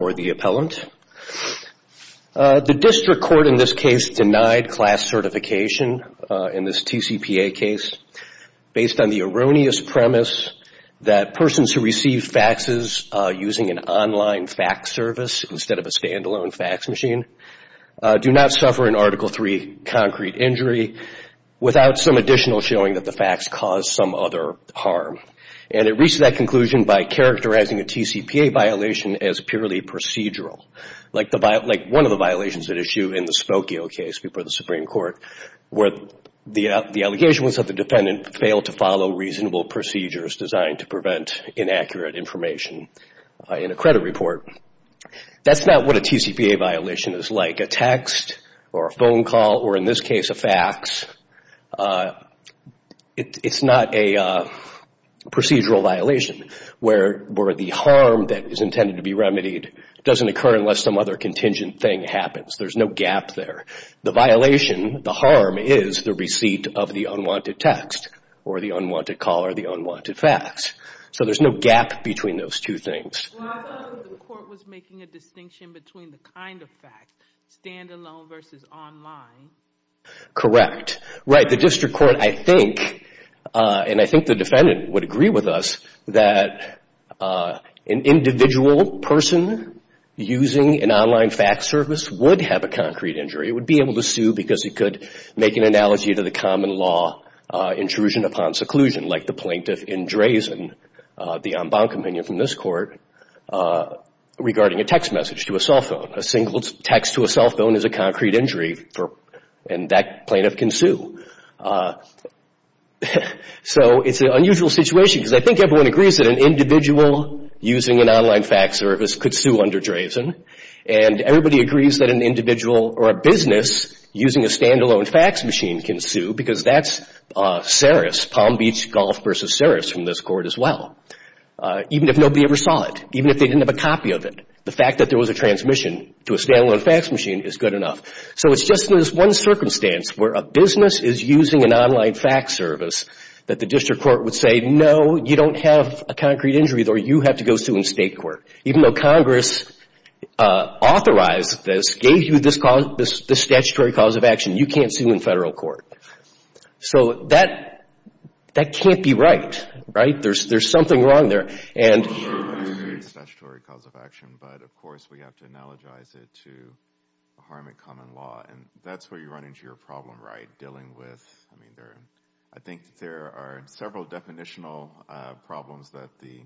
The District Court in this case denied class certification in this TCPA case based on the erroneous premise that persons who receive faxes using an online fax service instead of a stand-alone fax machine do not suffer an Article III concrete injury without some additional showing that the fax caused some other harm. It reached that conclusion by characterizing a TCPA violation as purely procedural, like one of the violations at issue in the Spokio case before the Supreme Court, where the allegation was that the defendant failed to follow reasonable procedures designed to prevent inaccurate information in a credit report. That's not what a TCPA violation is like. Like a text, or a phone call, or in this case a fax, it's not a procedural violation, where the harm that is intended to be remedied doesn't occur unless some other contingent thing happens. There's no gap there. The violation, the harm, is the receipt of the unwanted text, or the unwanted call, or the unwanted fax. So there's no gap between those two things. Well, I thought that the court was making a distinction between the kind of fax, stand-alone versus online. Correct. Right, the district court, I think, and I think the defendant would agree with us, that an individual person using an online fax service would have a concrete injury. It would be able to sue because it could make an analogy to the common law intrusion upon seclusion, like the plaintiff in Drazen, the en banc opinion from this court, regarding a text message to a cell phone. A single text to a cell phone is a concrete injury, and that plaintiff can sue. So it's an unusual situation because I think everyone agrees that an individual using an online fax service could sue under Drazen, and everybody agrees that an individual or a business using a stand-alone fax machine can sue because that's Saris, Palm Beach Golf versus Saris from this court as well. Even if nobody ever saw it, even if they didn't have a copy of it, the fact that there was a transmission to a stand-alone fax machine is good enough. So it's just this one circumstance where a business is using an online fax service that the district court would say, no, you don't have a concrete injury, or you have to go sue in state court. Even though Congress authorized this, gave you this statutory cause of action, you can't sue in federal court. So that can't be right, right? There's something wrong there. And... I agree it's a statutory cause of action, but of course we have to analogize it to harm in common law, and that's where you run into your problem, right, dealing with, I mean, I think there are several definitional problems that the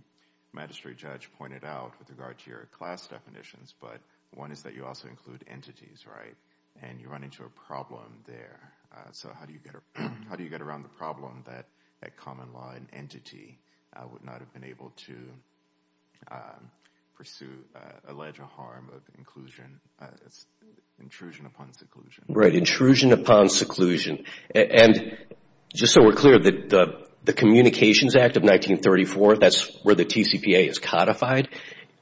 magistrate judge pointed out with regard to your class definitions, but one is that you also include entities, right? And you run into a problem there. So how do you get around the problem that a common law entity would not have been able to pursue, allege a harm of inclusion, intrusion upon seclusion? Right, intrusion upon seclusion. And just so we're clear, the Communications Act of 1934, that's where the TCPA is codified,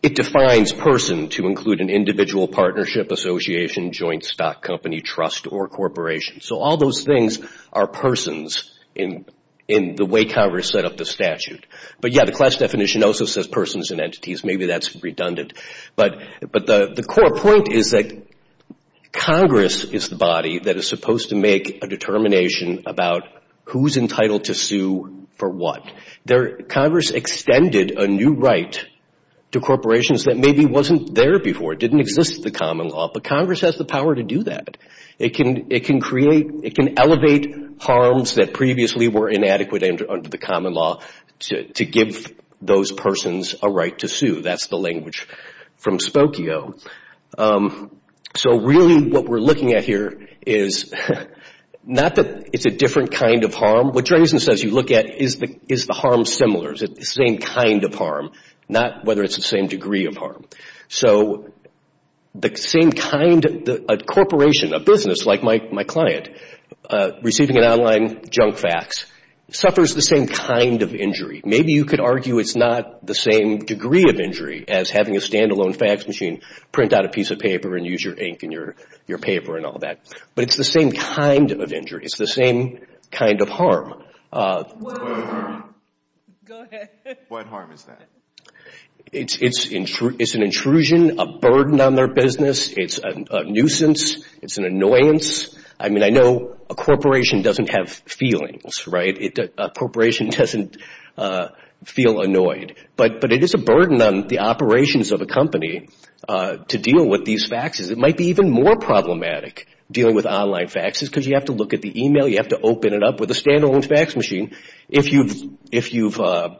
it defines person to include an individual, partnership, association, joint stock company, trust, or corporation. So all those things are persons in the way Congress set up the statute. But yeah, the class definition also says persons and entities, maybe that's redundant. But the core point is that Congress is the body that is supposed to make a determination about who's entitled to sue for what. There, Congress extended a new right to corporations that maybe wasn't there before, didn't exist in the common law, but Congress has the power to do that. It can create, it can elevate harms that previously were inadequate under the common law to give those persons a right to sue. That's the language from Spokio. So really what we're looking at here is not that it's a different kind of harm. What Dresden says you look at is the harm similar, is it the same kind of harm, not whether it's the same degree of harm. So the same kind, a corporation, a business like my client receiving an online junk fax, suffers the same kind of injury. Maybe you could argue it's not the same degree of injury as having a standalone fax machine, print out a piece of paper and use your ink and your paper and all that. But it's the same kind of injury. It's the same kind of harm. What harm is that? It's an intrusion, a burden on their business, it's a nuisance, it's an annoyance. I mean, I know a corporation doesn't have feelings, right? A corporation doesn't feel annoyed. But it is a burden on the operations of a company to deal with these faxes. It might be even more problematic dealing with online faxes because you have to look at the email, you have to open it up with a standalone fax machine. If you've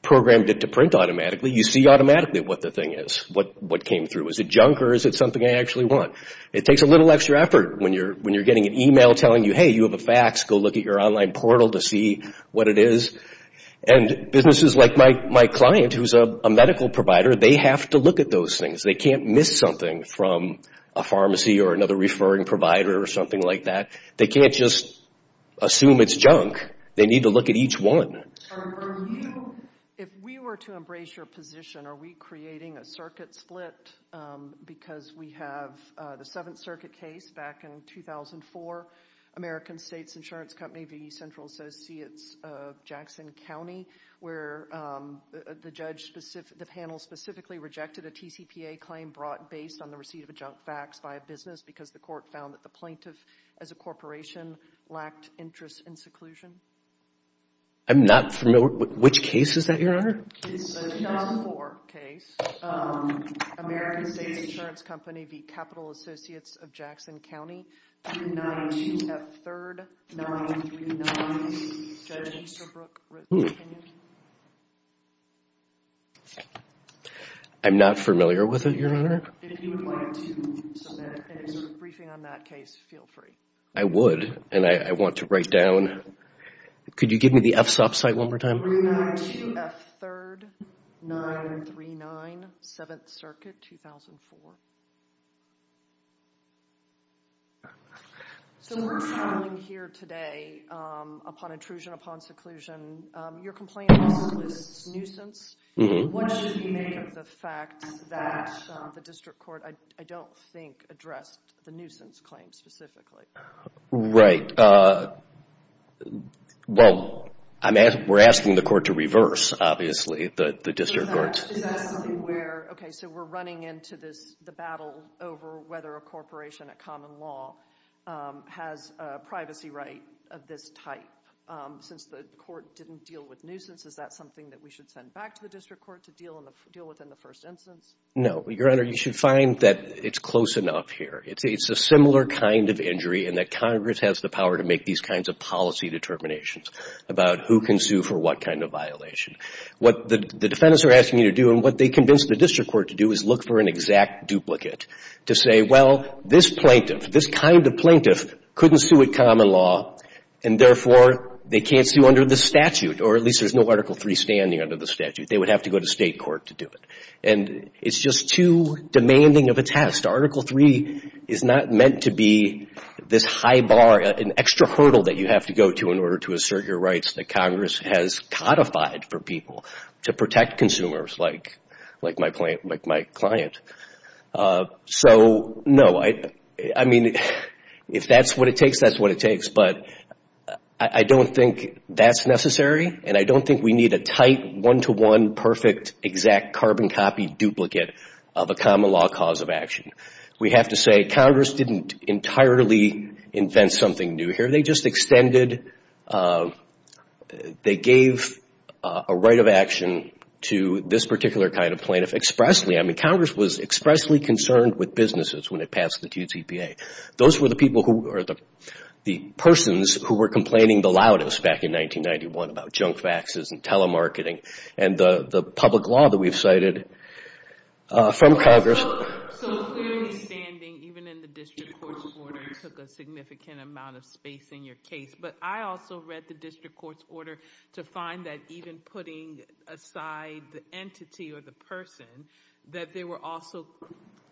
programmed it to print automatically, you see automatically what the thing is, what came through. Is it junk or is it something I actually want? It takes a little extra effort when you're getting an email telling you, hey, you have a fax, go look at your online portal to see what it is. And businesses like my client who's a medical provider, they have to look at those things. They can't miss something from a pharmacy or another referring provider or something like that. They can't just assume it's junk. They need to look at each one. If we were to embrace your position, are we creating a circuit split because we have the Seventh Circuit case back in 2004, American States Insurance Company v. Central Associates of Jackson County, where the panel specifically rejected a TCPA claim brought based on the receipt of a junk fax by a business because the court found that the plaintiff, as a corporation, lacked interest in seclusion? I'm not familiar. Which case is that, Your Honor? It's a 2004 case. American States Insurance Company v. Capital Associates of Jackson County. 992F3RD-939-3. I'm not familiar with it, Your Honor. If you would like to submit a briefing on that case, feel free. I would, and I want to write down. Could you give me the FSOP site one more time? 992F3RD-939, Seventh Circuit, 2004. So we're traveling here today upon intrusion, upon seclusion. Your complaint lists nuisance. What should we make of the fact that the district court, I don't think, addressed the nuisance claim specifically? Right. Well, we're asking the court to reverse, obviously, the district court's... Is that something where, okay, so we're running into the battle over whether a corporation, a common law, has a privacy right of this type since the court didn't deal with nuisance? Is that something that we should send back to the district court to deal with in the first instance? No. Your Honor, you should find that it's close enough here. It's a similar kind of injury in that Congress has the power to make these kinds of policy determinations about who can sue for what kind of violation. What the defendants are asking you to do, and what they convinced the district court to do, is look for an exact duplicate to say, well, this plaintiff, this kind of plaintiff, couldn't sue a common law, and therefore, they can't sue under the statute, or at least there's no Article III standing under the statute. They would have to go to state court to do it. And it's just too demanding of a test. Article III is not meant to be this high bar, an extra hurdle that you have to go to in order to assert your rights that Congress has codified for people to protect consumers like my client. So, no, I mean, if that's what it takes, that's what it takes. But I don't think that's necessary, and I don't think we need a tight one-to-one, perfect, exact carbon copy duplicate of a common law cause of action. We have to say, Congress didn't entirely invent something new here. They just extended, they gave a right of action to this particular kind of plaintiff expressly. I mean, Congress was expressly concerned with businesses when it passed the DTPA. Those were the people who, or the persons who were complaining the loudest back in 1991 about junk faxes and telemarketing, and the public law that we've cited from Congress. So clearly standing, even in the district court's order, took a significant amount of space in your case. But I also read the district court's order to find that even putting aside the entity or the person, that there were also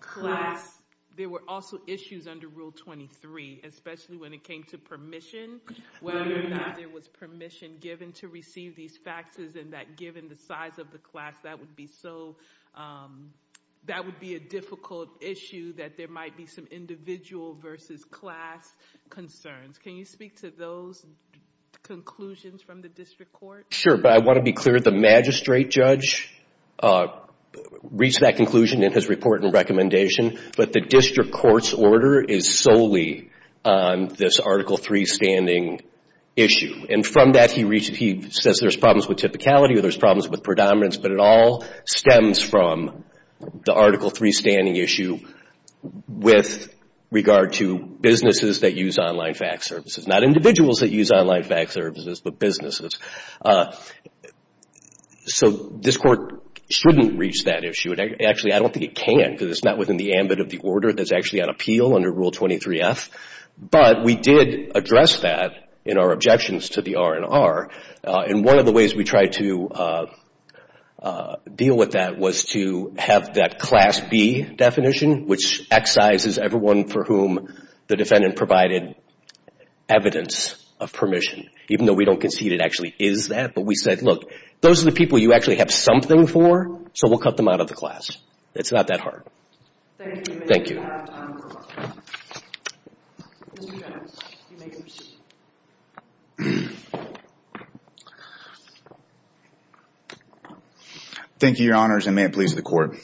class, there were also issues under Rule 23. Especially when it came to permission, whether or not there was permission given to receive these faxes. And that given the size of the class, that would be so, that would be a difficult issue. That there might be some individual versus class concerns. Can you speak to those conclusions from the district court? Sure, but I want to be clear, the magistrate judge reached that conclusion in his report and recommendation. But the district court's order is solely on this Article III standing issue. And from that, he says there's problems with typicality or there's problems with predominance. But it all stems from the Article III standing issue with regard to businesses that use online fax services. Not individuals that use online fax services, but businesses. So this court shouldn't reach that issue. And actually, I don't think it can, because it's not within the ambit of the order that's actually on appeal under Rule 23F. But we did address that in our objections to the R&R. And one of the ways we tried to deal with that was to have that Class B definition, which excises everyone for whom the defendant provided evidence of permission. Even though we don't concede it actually is that. But we said, look, those are the people you actually have something for, so we'll cut them out of the class. It's not that hard. Thank you. Thank you. Thank you, Your Honors, and may it please the Court.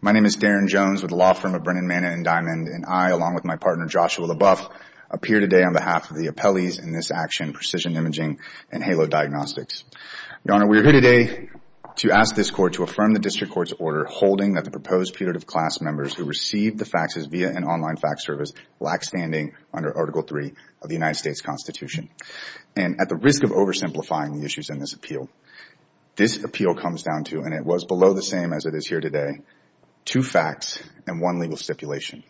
My name is Darren Jones with the law firm of Brennan, Manning, and Diamond. And I, along with my partner Joshua LaBoeuf, appear today on behalf of the appellees in this action, Precision Imaging and Halo Diagnostics. Your Honor, we are here today to ask this Court to affirm the district court's order holding that the proposed period of class members who received the faxes via an online fax service lack standing under Article III of the United States Constitution. And at the risk of oversimplifying the issues in this appeal, this appeal comes down to, and it was below the same as it is here today, two facts and one legal stipulation.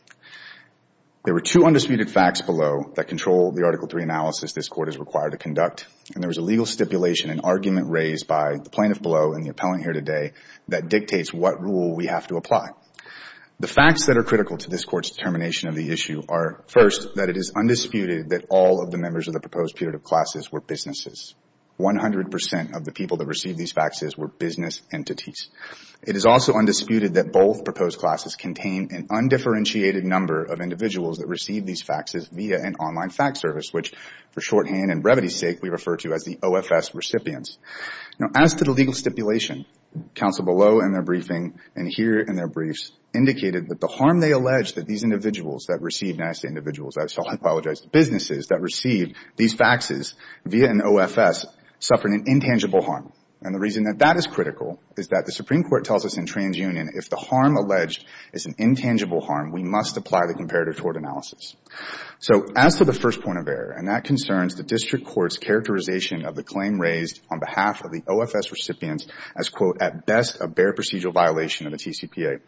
There were two undisputed facts below that control the Article III analysis this Court is required to conduct. And there was a legal stipulation, an argument raised by the plaintiff below and the appellant here today, that dictates what rule we have to apply. The facts that are critical to this Court's determination of the issue are, first, that it is undisputed that all of the members of the proposed period of classes were businesses. 100% of the people that received these faxes were business entities. It is also undisputed that both proposed classes contain an undifferentiated number of individuals that received these faxes via an online fax service, which, for shorthand and brevity's sake, we refer to as the OFS recipients. Now, as to the legal stipulation, counsel below in their briefing and here in their briefs indicated that the harm they alleged that these individuals that received, and I say individuals, I apologize, businesses that received these faxes via an OFS suffered an intangible harm. And the reason that that is critical is that the Supreme Court tells us in TransUnion if the harm alleged is an intangible harm, we must apply the comparative tort analysis. So, as to the first point of error, and that concerns the District Court's characterization of the claim raised on behalf of the OFS recipients as, quote, at best a bare procedural violation of the TCPA,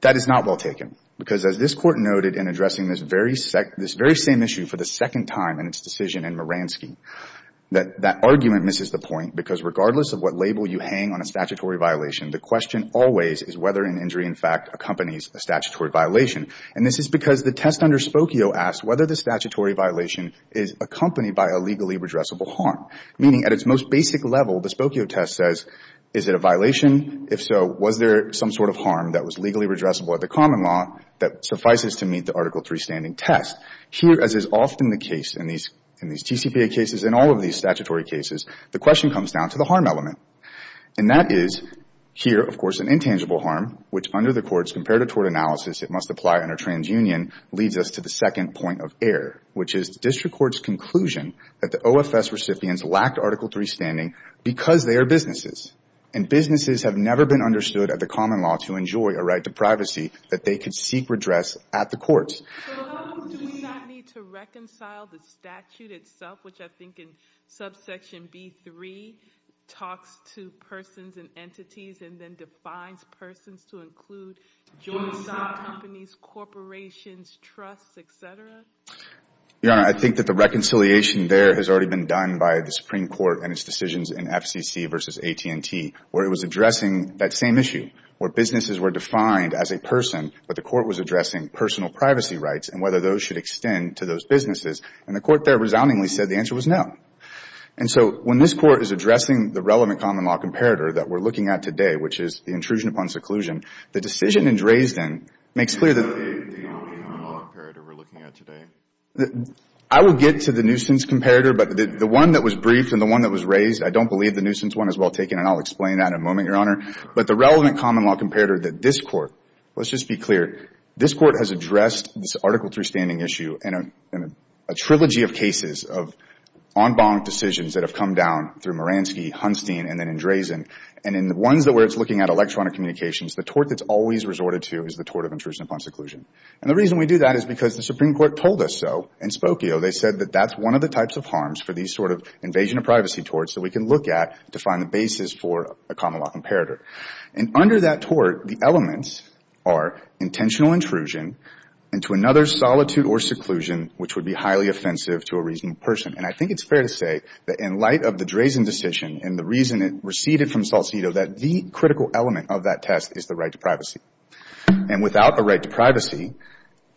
that is not well taken. Because as this Court noted in addressing this very same issue for the second time in its decision in Moransky, that that argument misses the point, because regardless of what label you hang on a statutory violation, the question always is whether an injury, in fact, accompanies a statutory violation. And this is because the test under Spokio asks whether the statutory violation is accompanied by a legally redressable harm. Meaning, at its most basic level, the Spokio test says, is it a violation? If so, was there some sort of harm that was legally redressable at the common law that suffices to meet the Article III standing test? Here, as is often the case in these TCPA cases and all of these statutory cases, the question comes down to the harm element. And that is here, of course, an intangible harm, which under the courts, compared to tort analysis, it must apply under TransUnion, leads us to the second point of error, which is the District Court's conclusion that the OFS recipients lacked Article III standing because they are businesses. And businesses have never been understood at the common law to enjoy a right to privacy that they could seek redress at the courts. So how do we not need to reconcile the statute itself, which I think in subsection B3 talks to persons and entities and then defines persons to include joint stock companies, corporations, trusts, et cetera? Your Honor, I think that the reconciliation there has already been done by the Supreme Court and its decisions in FCC versus AT&T, where it was addressing that same issue, where businesses were defined as a person, but the court was addressing personal privacy rights and whether those should extend to those businesses. And the court there resoundingly said the answer was no. And so when this court is addressing the relevant common law comparator that we're looking at today, which is the intrusion upon seclusion, the decision in Dresden makes clear that... The relevant common law comparator we're looking at today. I will get to the nuisance comparator, but the one that was briefed and the one that was raised, I don't believe the nuisance one is well taken, and I'll explain that in a moment, Your Honor. But the relevant common law comparator that this court, let's just be clear, this court has addressed this Article III standing issue in a trilogy of cases of en banc decisions that have come down through Moransky, Hunstein, and then in Dresden. And in the ones where it's looking at electronic communications, the tort that's always resorted to is the tort of intrusion upon seclusion. And the reason we do that is because the Supreme Court told us so in Spokio. They said that that's one of the types of harms for these sort of invasion of privacy torts that we can look at to find the basis for a common law comparator. And under that tort, the elements are intentional intrusion into another solitude or seclusion, which would be highly offensive to a reasonable person. And I think it's fair to say that in light of the Dresden decision and the reason it receded from Solcito, that the critical element of that test is the right to privacy. And without a right to privacy,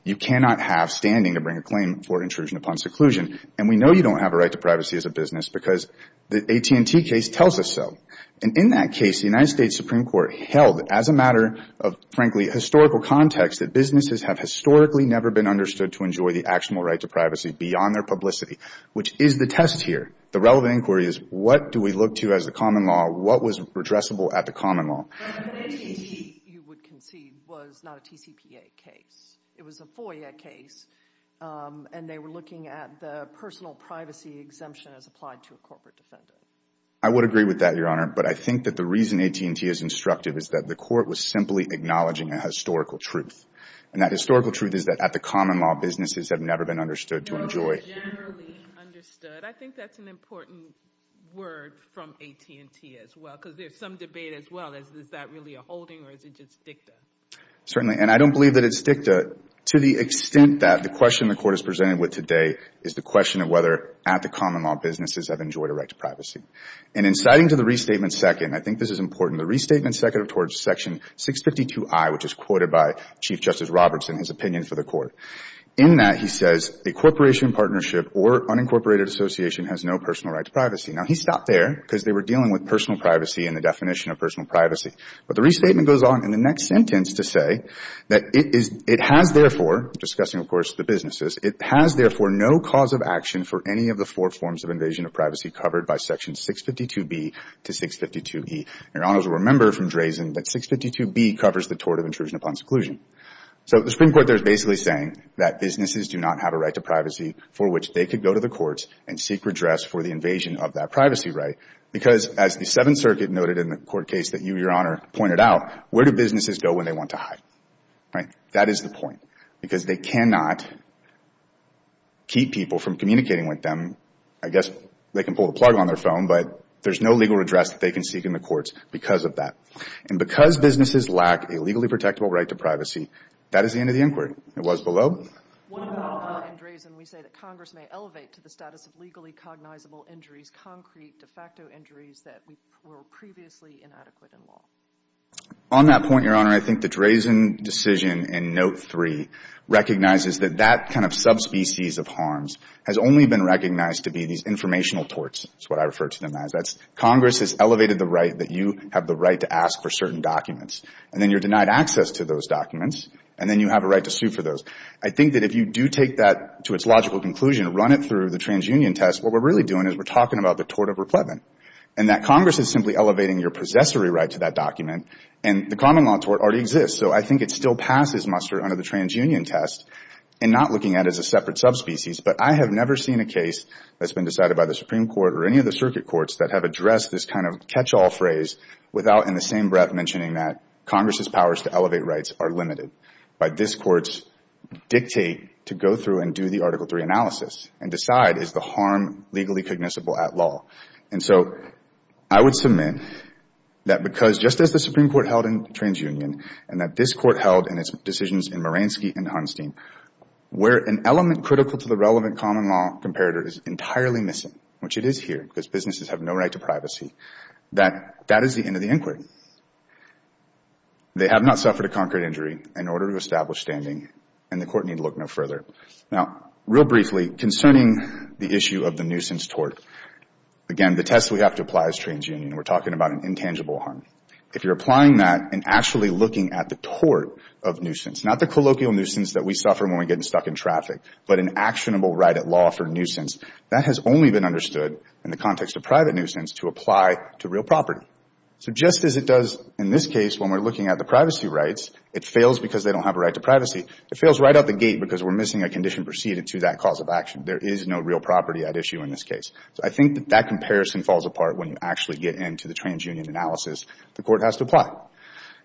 you cannot have standing to bring a claim for intrusion upon seclusion. And we know you don't have a right to privacy as a business because the AT&T case tells us so. And in that case, the United States Supreme Court held as a matter of, frankly, historical context that businesses have historically never been understood to enjoy the actual right to privacy beyond their publicity, which is the test here. The relevant inquiry is what do we look to as a common law? What was redressable at the common law? AT&T, you would concede, was not a TCPA case. It was a FOIA case. And they were looking at the personal privacy exemption as applied to a corporate defendant. I would agree with that, Your Honor. But I think that the reason AT&T is instructive is that the court was simply acknowledging a historical truth. And that historical truth is that at the common law, businesses have never been understood to enjoy. No, generally understood. I think that's an important word from AT&T as well, because there's some debate as well as is that really a holding or is it just dicta? Certainly. And I don't believe that it's dicta to the extent that the question the court is presented with today is the question of whether at the common law, businesses have enjoyed a right to privacy. And inciting to the restatement second, I think this is important. From the restatement second towards section 652i, which is quoted by Chief Justice Roberts in his opinion for the court. In that, he says, a corporation, partnership, or unincorporated association has no personal right to privacy. Now, he stopped there because they were dealing with personal privacy and the definition of personal privacy. But the restatement goes on in the next sentence to say that it has, therefore, discussing, of course, the businesses, it has, therefore, no cause of action for any of the four forms of invasion of privacy covered by section 652b to 652e. Your honors will remember from Drazen that 652b covers the tort of intrusion upon seclusion. So the Supreme Court there is basically saying that businesses do not have a right to privacy for which they could go to the courts and seek redress for the invasion of that privacy right. Because as the Seventh Circuit noted in the court case that you, Your Honor, pointed out, where do businesses go when they want to hide? Right? That is the point. Because they cannot keep people from communicating with them. I guess they can pull the plug on their phone, but there's no legal redress that they can seek in the courts because of that. And because businesses lack a legally protectable right to privacy, that is the end of the inquiry. It was below. On that point, Your Honor, I think the Drazen decision in note three recognizes that that kind of subspecies of harms has only been recognized to be these informational torts, is what I refer to them as. That's Congress has elevated the right that you have the right to ask for certain documents. And then you're denied access to those documents, and then you have a right to sue for those. I think that if you do take that to its logical conclusion, run it through the transunion test, what we're really doing is we're talking about the tort of repletment. And that Congress is simply elevating your possessory right to that document, and the common law tort already exists. So I think it still passes muster under the transunion test and not looking at it as a separate subspecies. But I have never seen a case that's been decided by the Supreme Court or any of the circuit courts that have addressed this kind of catch-all phrase without in the same breath mentioning that Congress's powers to elevate rights are limited. But this Court's dictate to go through and do the Article III analysis and decide is the harm legally cognizable at law. And so I would submit that because just as the Supreme Court held in transunion and that this Court held in its decisions in Maransky and Hunstein, where an element critical to the relevant common law comparator is entirely missing, which it is here because businesses have no right to privacy, that that is the end of the inquiry. They have not suffered a concrete injury in order to establish standing, and the Court need look no further. Now, real briefly, concerning the issue of the nuisance tort, again, the test we have to apply as transunion, we're talking about an intangible harm. If you're applying that and actually looking at the tort of nuisance, not the colloquial nuisance that we suffer when we get stuck in traffic, but an actionable right at law for nuisance, that has only been understood in the context of private nuisance to apply to real property. So just as it does in this case when we're looking at the privacy rights, it fails because they don't have a right to privacy, it fails right out the gate because we're missing a condition preceded to that cause of action. There is no real property at issue in this case. So I think that that comparison falls apart when you actually get into the transunion analysis the Court has to apply.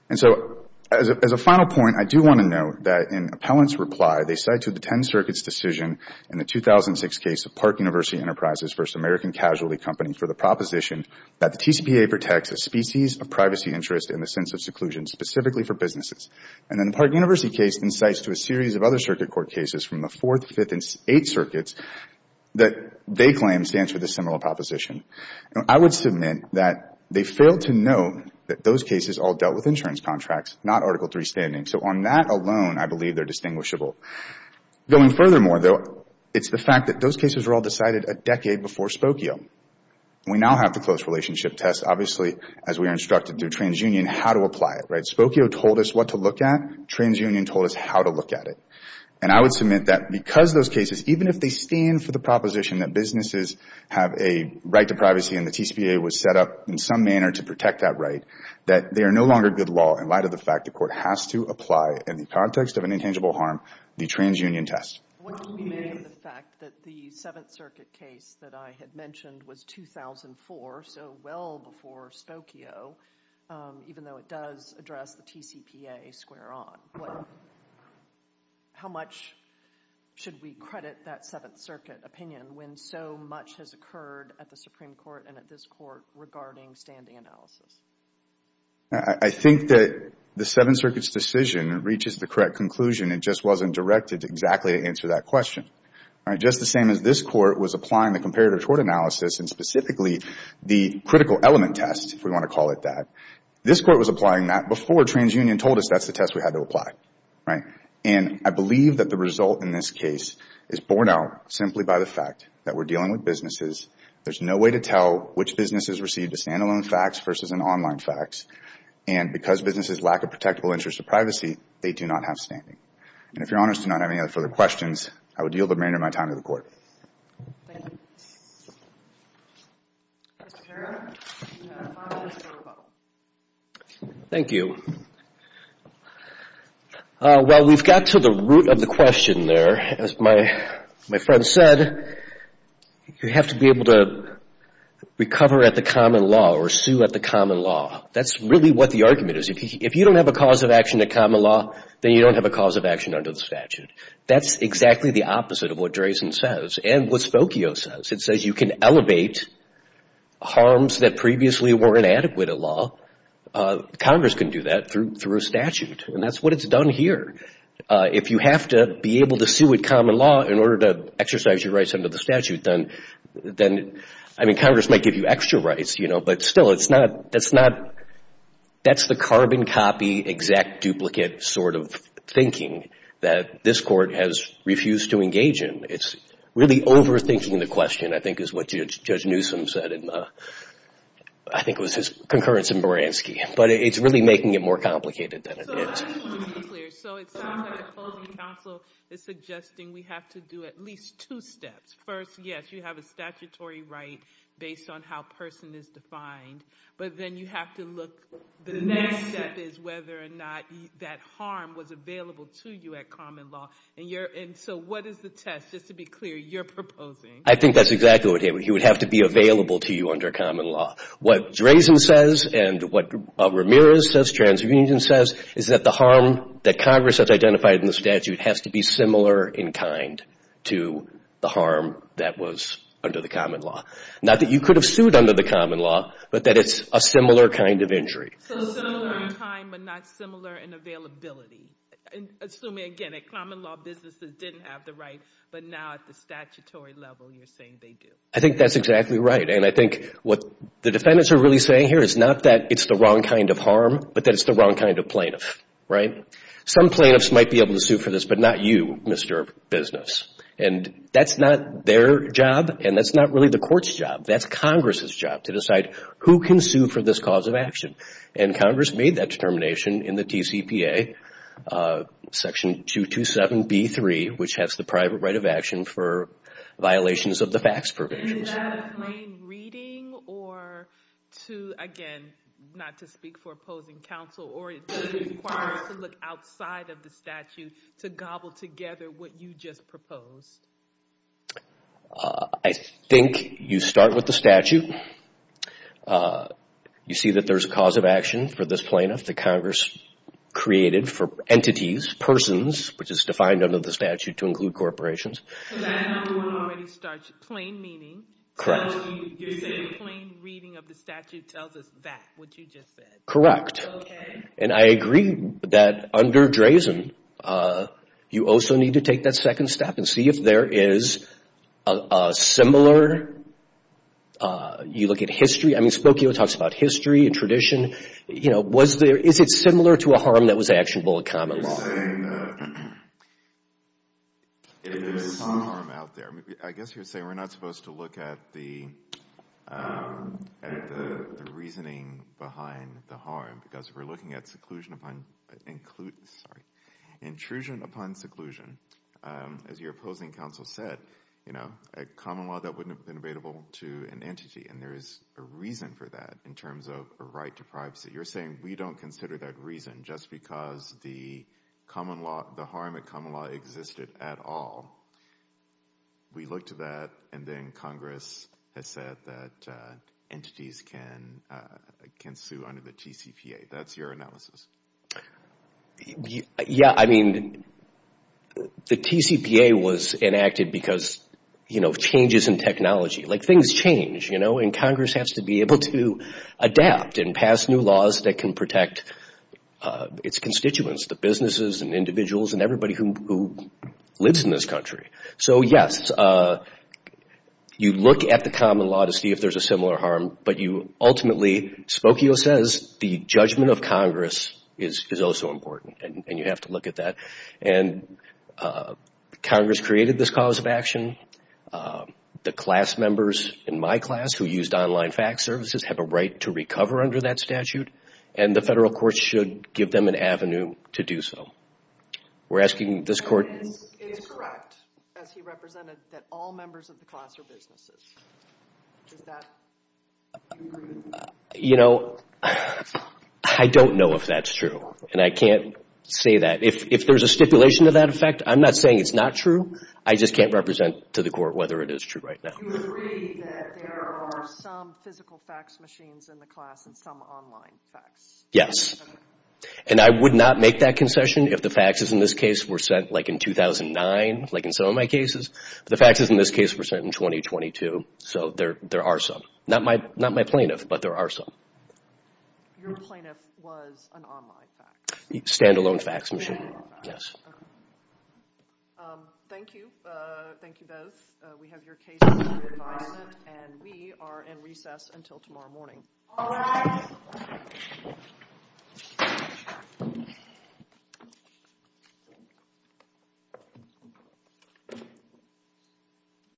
And so as a final point, I do want to note that in Appellant's reply, they cite to the 10 circuits decision in the 2006 case of Park University Enterprises versus American Casualty Company for the proposition that the TCPA protects a species of privacy interest in the sense of seclusion specifically for businesses. And then the Park University case incites to a series of other circuit court cases from the 4th, 5th, and 8th circuits that they claim stands for the similar proposition. Now, I would submit that they failed to note that those cases all dealt with insurance contracts, not Article III standing. So on that alone, I believe they're distinguishable. Going furthermore, though, it's the fact that those cases were all decided a decade before Spokio. We now have the close relationship test. Obviously, as we are instructed through transunion, how to apply it, right? Spokio told us what to look at. Transunion told us how to look at it. And I would submit that because those cases, even if they stand for the proposition that businesses have a right to privacy and the TCPA was set up in some manner to protect that right, that they are no longer good law in light of the fact the court has to apply in the context of an intangible harm the transunion test. What do you make of the fact that the 7th Circuit case that I had mentioned was 2004, so well before Spokio, even though it does address the TCPA square on? How much should we credit that 7th Circuit opinion when so much has occurred at the Supreme Court and at this court regarding standing analysis? I think that the 7th Circuit's decision reaches the correct conclusion. It just wasn't directed exactly to answer that question. All right, just the same as this court was applying the comparative tort analysis and specifically the critical element test, if we want to call it that, this court was applying that before transunion told us that's the test we had to apply, right? And I believe that the result in this case is borne out simply by the fact that we're dealing with businesses. There's no way to tell which businesses received a standalone fax versus an online fax. And because businesses lack a protectable interest of privacy, they do not have standing. And if Your Honors do not have any other further questions, I would yield the remainder of my time to the Court. Thank you. Mr. Herrera, you have five minutes for a vote. Thank you. Well, we've got to the root of the question there. As my friend said, you have to be able to recover at the common law or sue at the common law. That's really what the argument is. If you don't have a cause of action at common law, then you don't have a cause of action under the statute. That's exactly the opposite of what Drayson says and what Spokio says. It says you can elevate harms that previously were inadequate at law. Congress can do that through a statute. And that's what it's done here. If you have to be able to sue at common law in order to exercise your rights under the statute, then Congress might give you extra rights. But still, that's the carbon copy, exact duplicate sort of thinking that this Court has refused to engage in. It's really overthinking the question, I think is what Judge Newsom said, and I think it was his concurrence in Baranski. But it's really making it more complicated than it is. Just to be clear, so it sounds like the opposing counsel is suggesting we have to do at least two steps. First, yes, you have a statutory right based on how a person is defined. But then you have to look. The next step is whether or not that harm was available to you at common law. And so what is the test? Just to be clear, you're proposing. I think that's exactly what he would have to be available to you under common law. What Drazen says and what Ramirez says, TransUnion says, is that the harm that Congress has identified in the statute has to be similar in kind to the harm that was under the common law. Not that you could have sued under the common law, but that it's a similar kind of injury. So similar in time, but not similar in availability. Assuming, again, that common law businesses didn't have the right, but now at the statutory level you're saying they do. I think that's exactly right. And I think what the defendants are really saying here is not that it's the wrong kind of harm, but that it's the wrong kind of plaintiff, right? Some plaintiffs might be able to sue for this, but not you, Mr. Business. And that's not their job, and that's not really the court's job. That's Congress's job to decide who can sue for this cause of action. And Congress made that determination in the TCPA, Section 227b3, which has the private right of action for violations of the facts provisions. Is that a plain reading or to, again, not to speak for opposing counsel, or does it require us to look outside of the statute to gobble together what you just proposed? I think you start with the statute. You see that there's a cause of action for this plaintiff that Congress created for entities, persons, which is defined under the statute to include corporations. So that number one already starts plain meaning. You're saying plain reading of the statute tells us that, what you just said. Correct. Okay. And I agree that under Drazen, you also need to take that second step and see if there is a similar. You look at history. I mean, Spokio talks about history and tradition. Is it similar to a harm that was actionable in common law? You're saying that there is some harm out there. I guess you're saying we're not supposed to look at the reasoning behind the harm because we're looking at intrusion upon seclusion. As your opposing counsel said, a common law, that wouldn't have been available to an entity, and there is a reason for that in terms of a right to privacy. You're saying we don't consider that reason just because the harm in common law existed at all. We look to that, and then Congress has said that entities can sue under the TCPA. That's your analysis. Yeah, I mean, the TCPA was enacted because, you know, changes in technology. Like, things change, you know, and Congress has to be able to adapt and pass new laws that can protect its constituents, the businesses and individuals and everybody who lives in this country. So, yes, you look at the common law to see if there is a similar harm, but you ultimately, Spokio says, the judgment of Congress is also important, and you have to look at that. Congress created this cause of action. The class members in my class who used online fax services have a right to recover under that statute, and the federal courts should give them an avenue to do so. We're asking this court... It is correct, as he represented, that all members of the class are businesses. Does that... You know, I don't know if that's true, and I can't say that. If there's a stipulation to that effect, I'm not saying it's not true. I just can't represent to the court whether it is true right now. You agree that there are some physical fax machines in the class and some online fax? Yes. And I would not make that concession if the faxes in this case were sent, like, in 2009, like in some of my cases. The faxes in this case were sent in 2022, so there are some. Not my plaintiff, but there are some. Your plaintiff was an online fax? Stand-alone fax machine, yes. Thank you. Thank you both. We have your cases for review and we are in recess until tomorrow morning. All rise.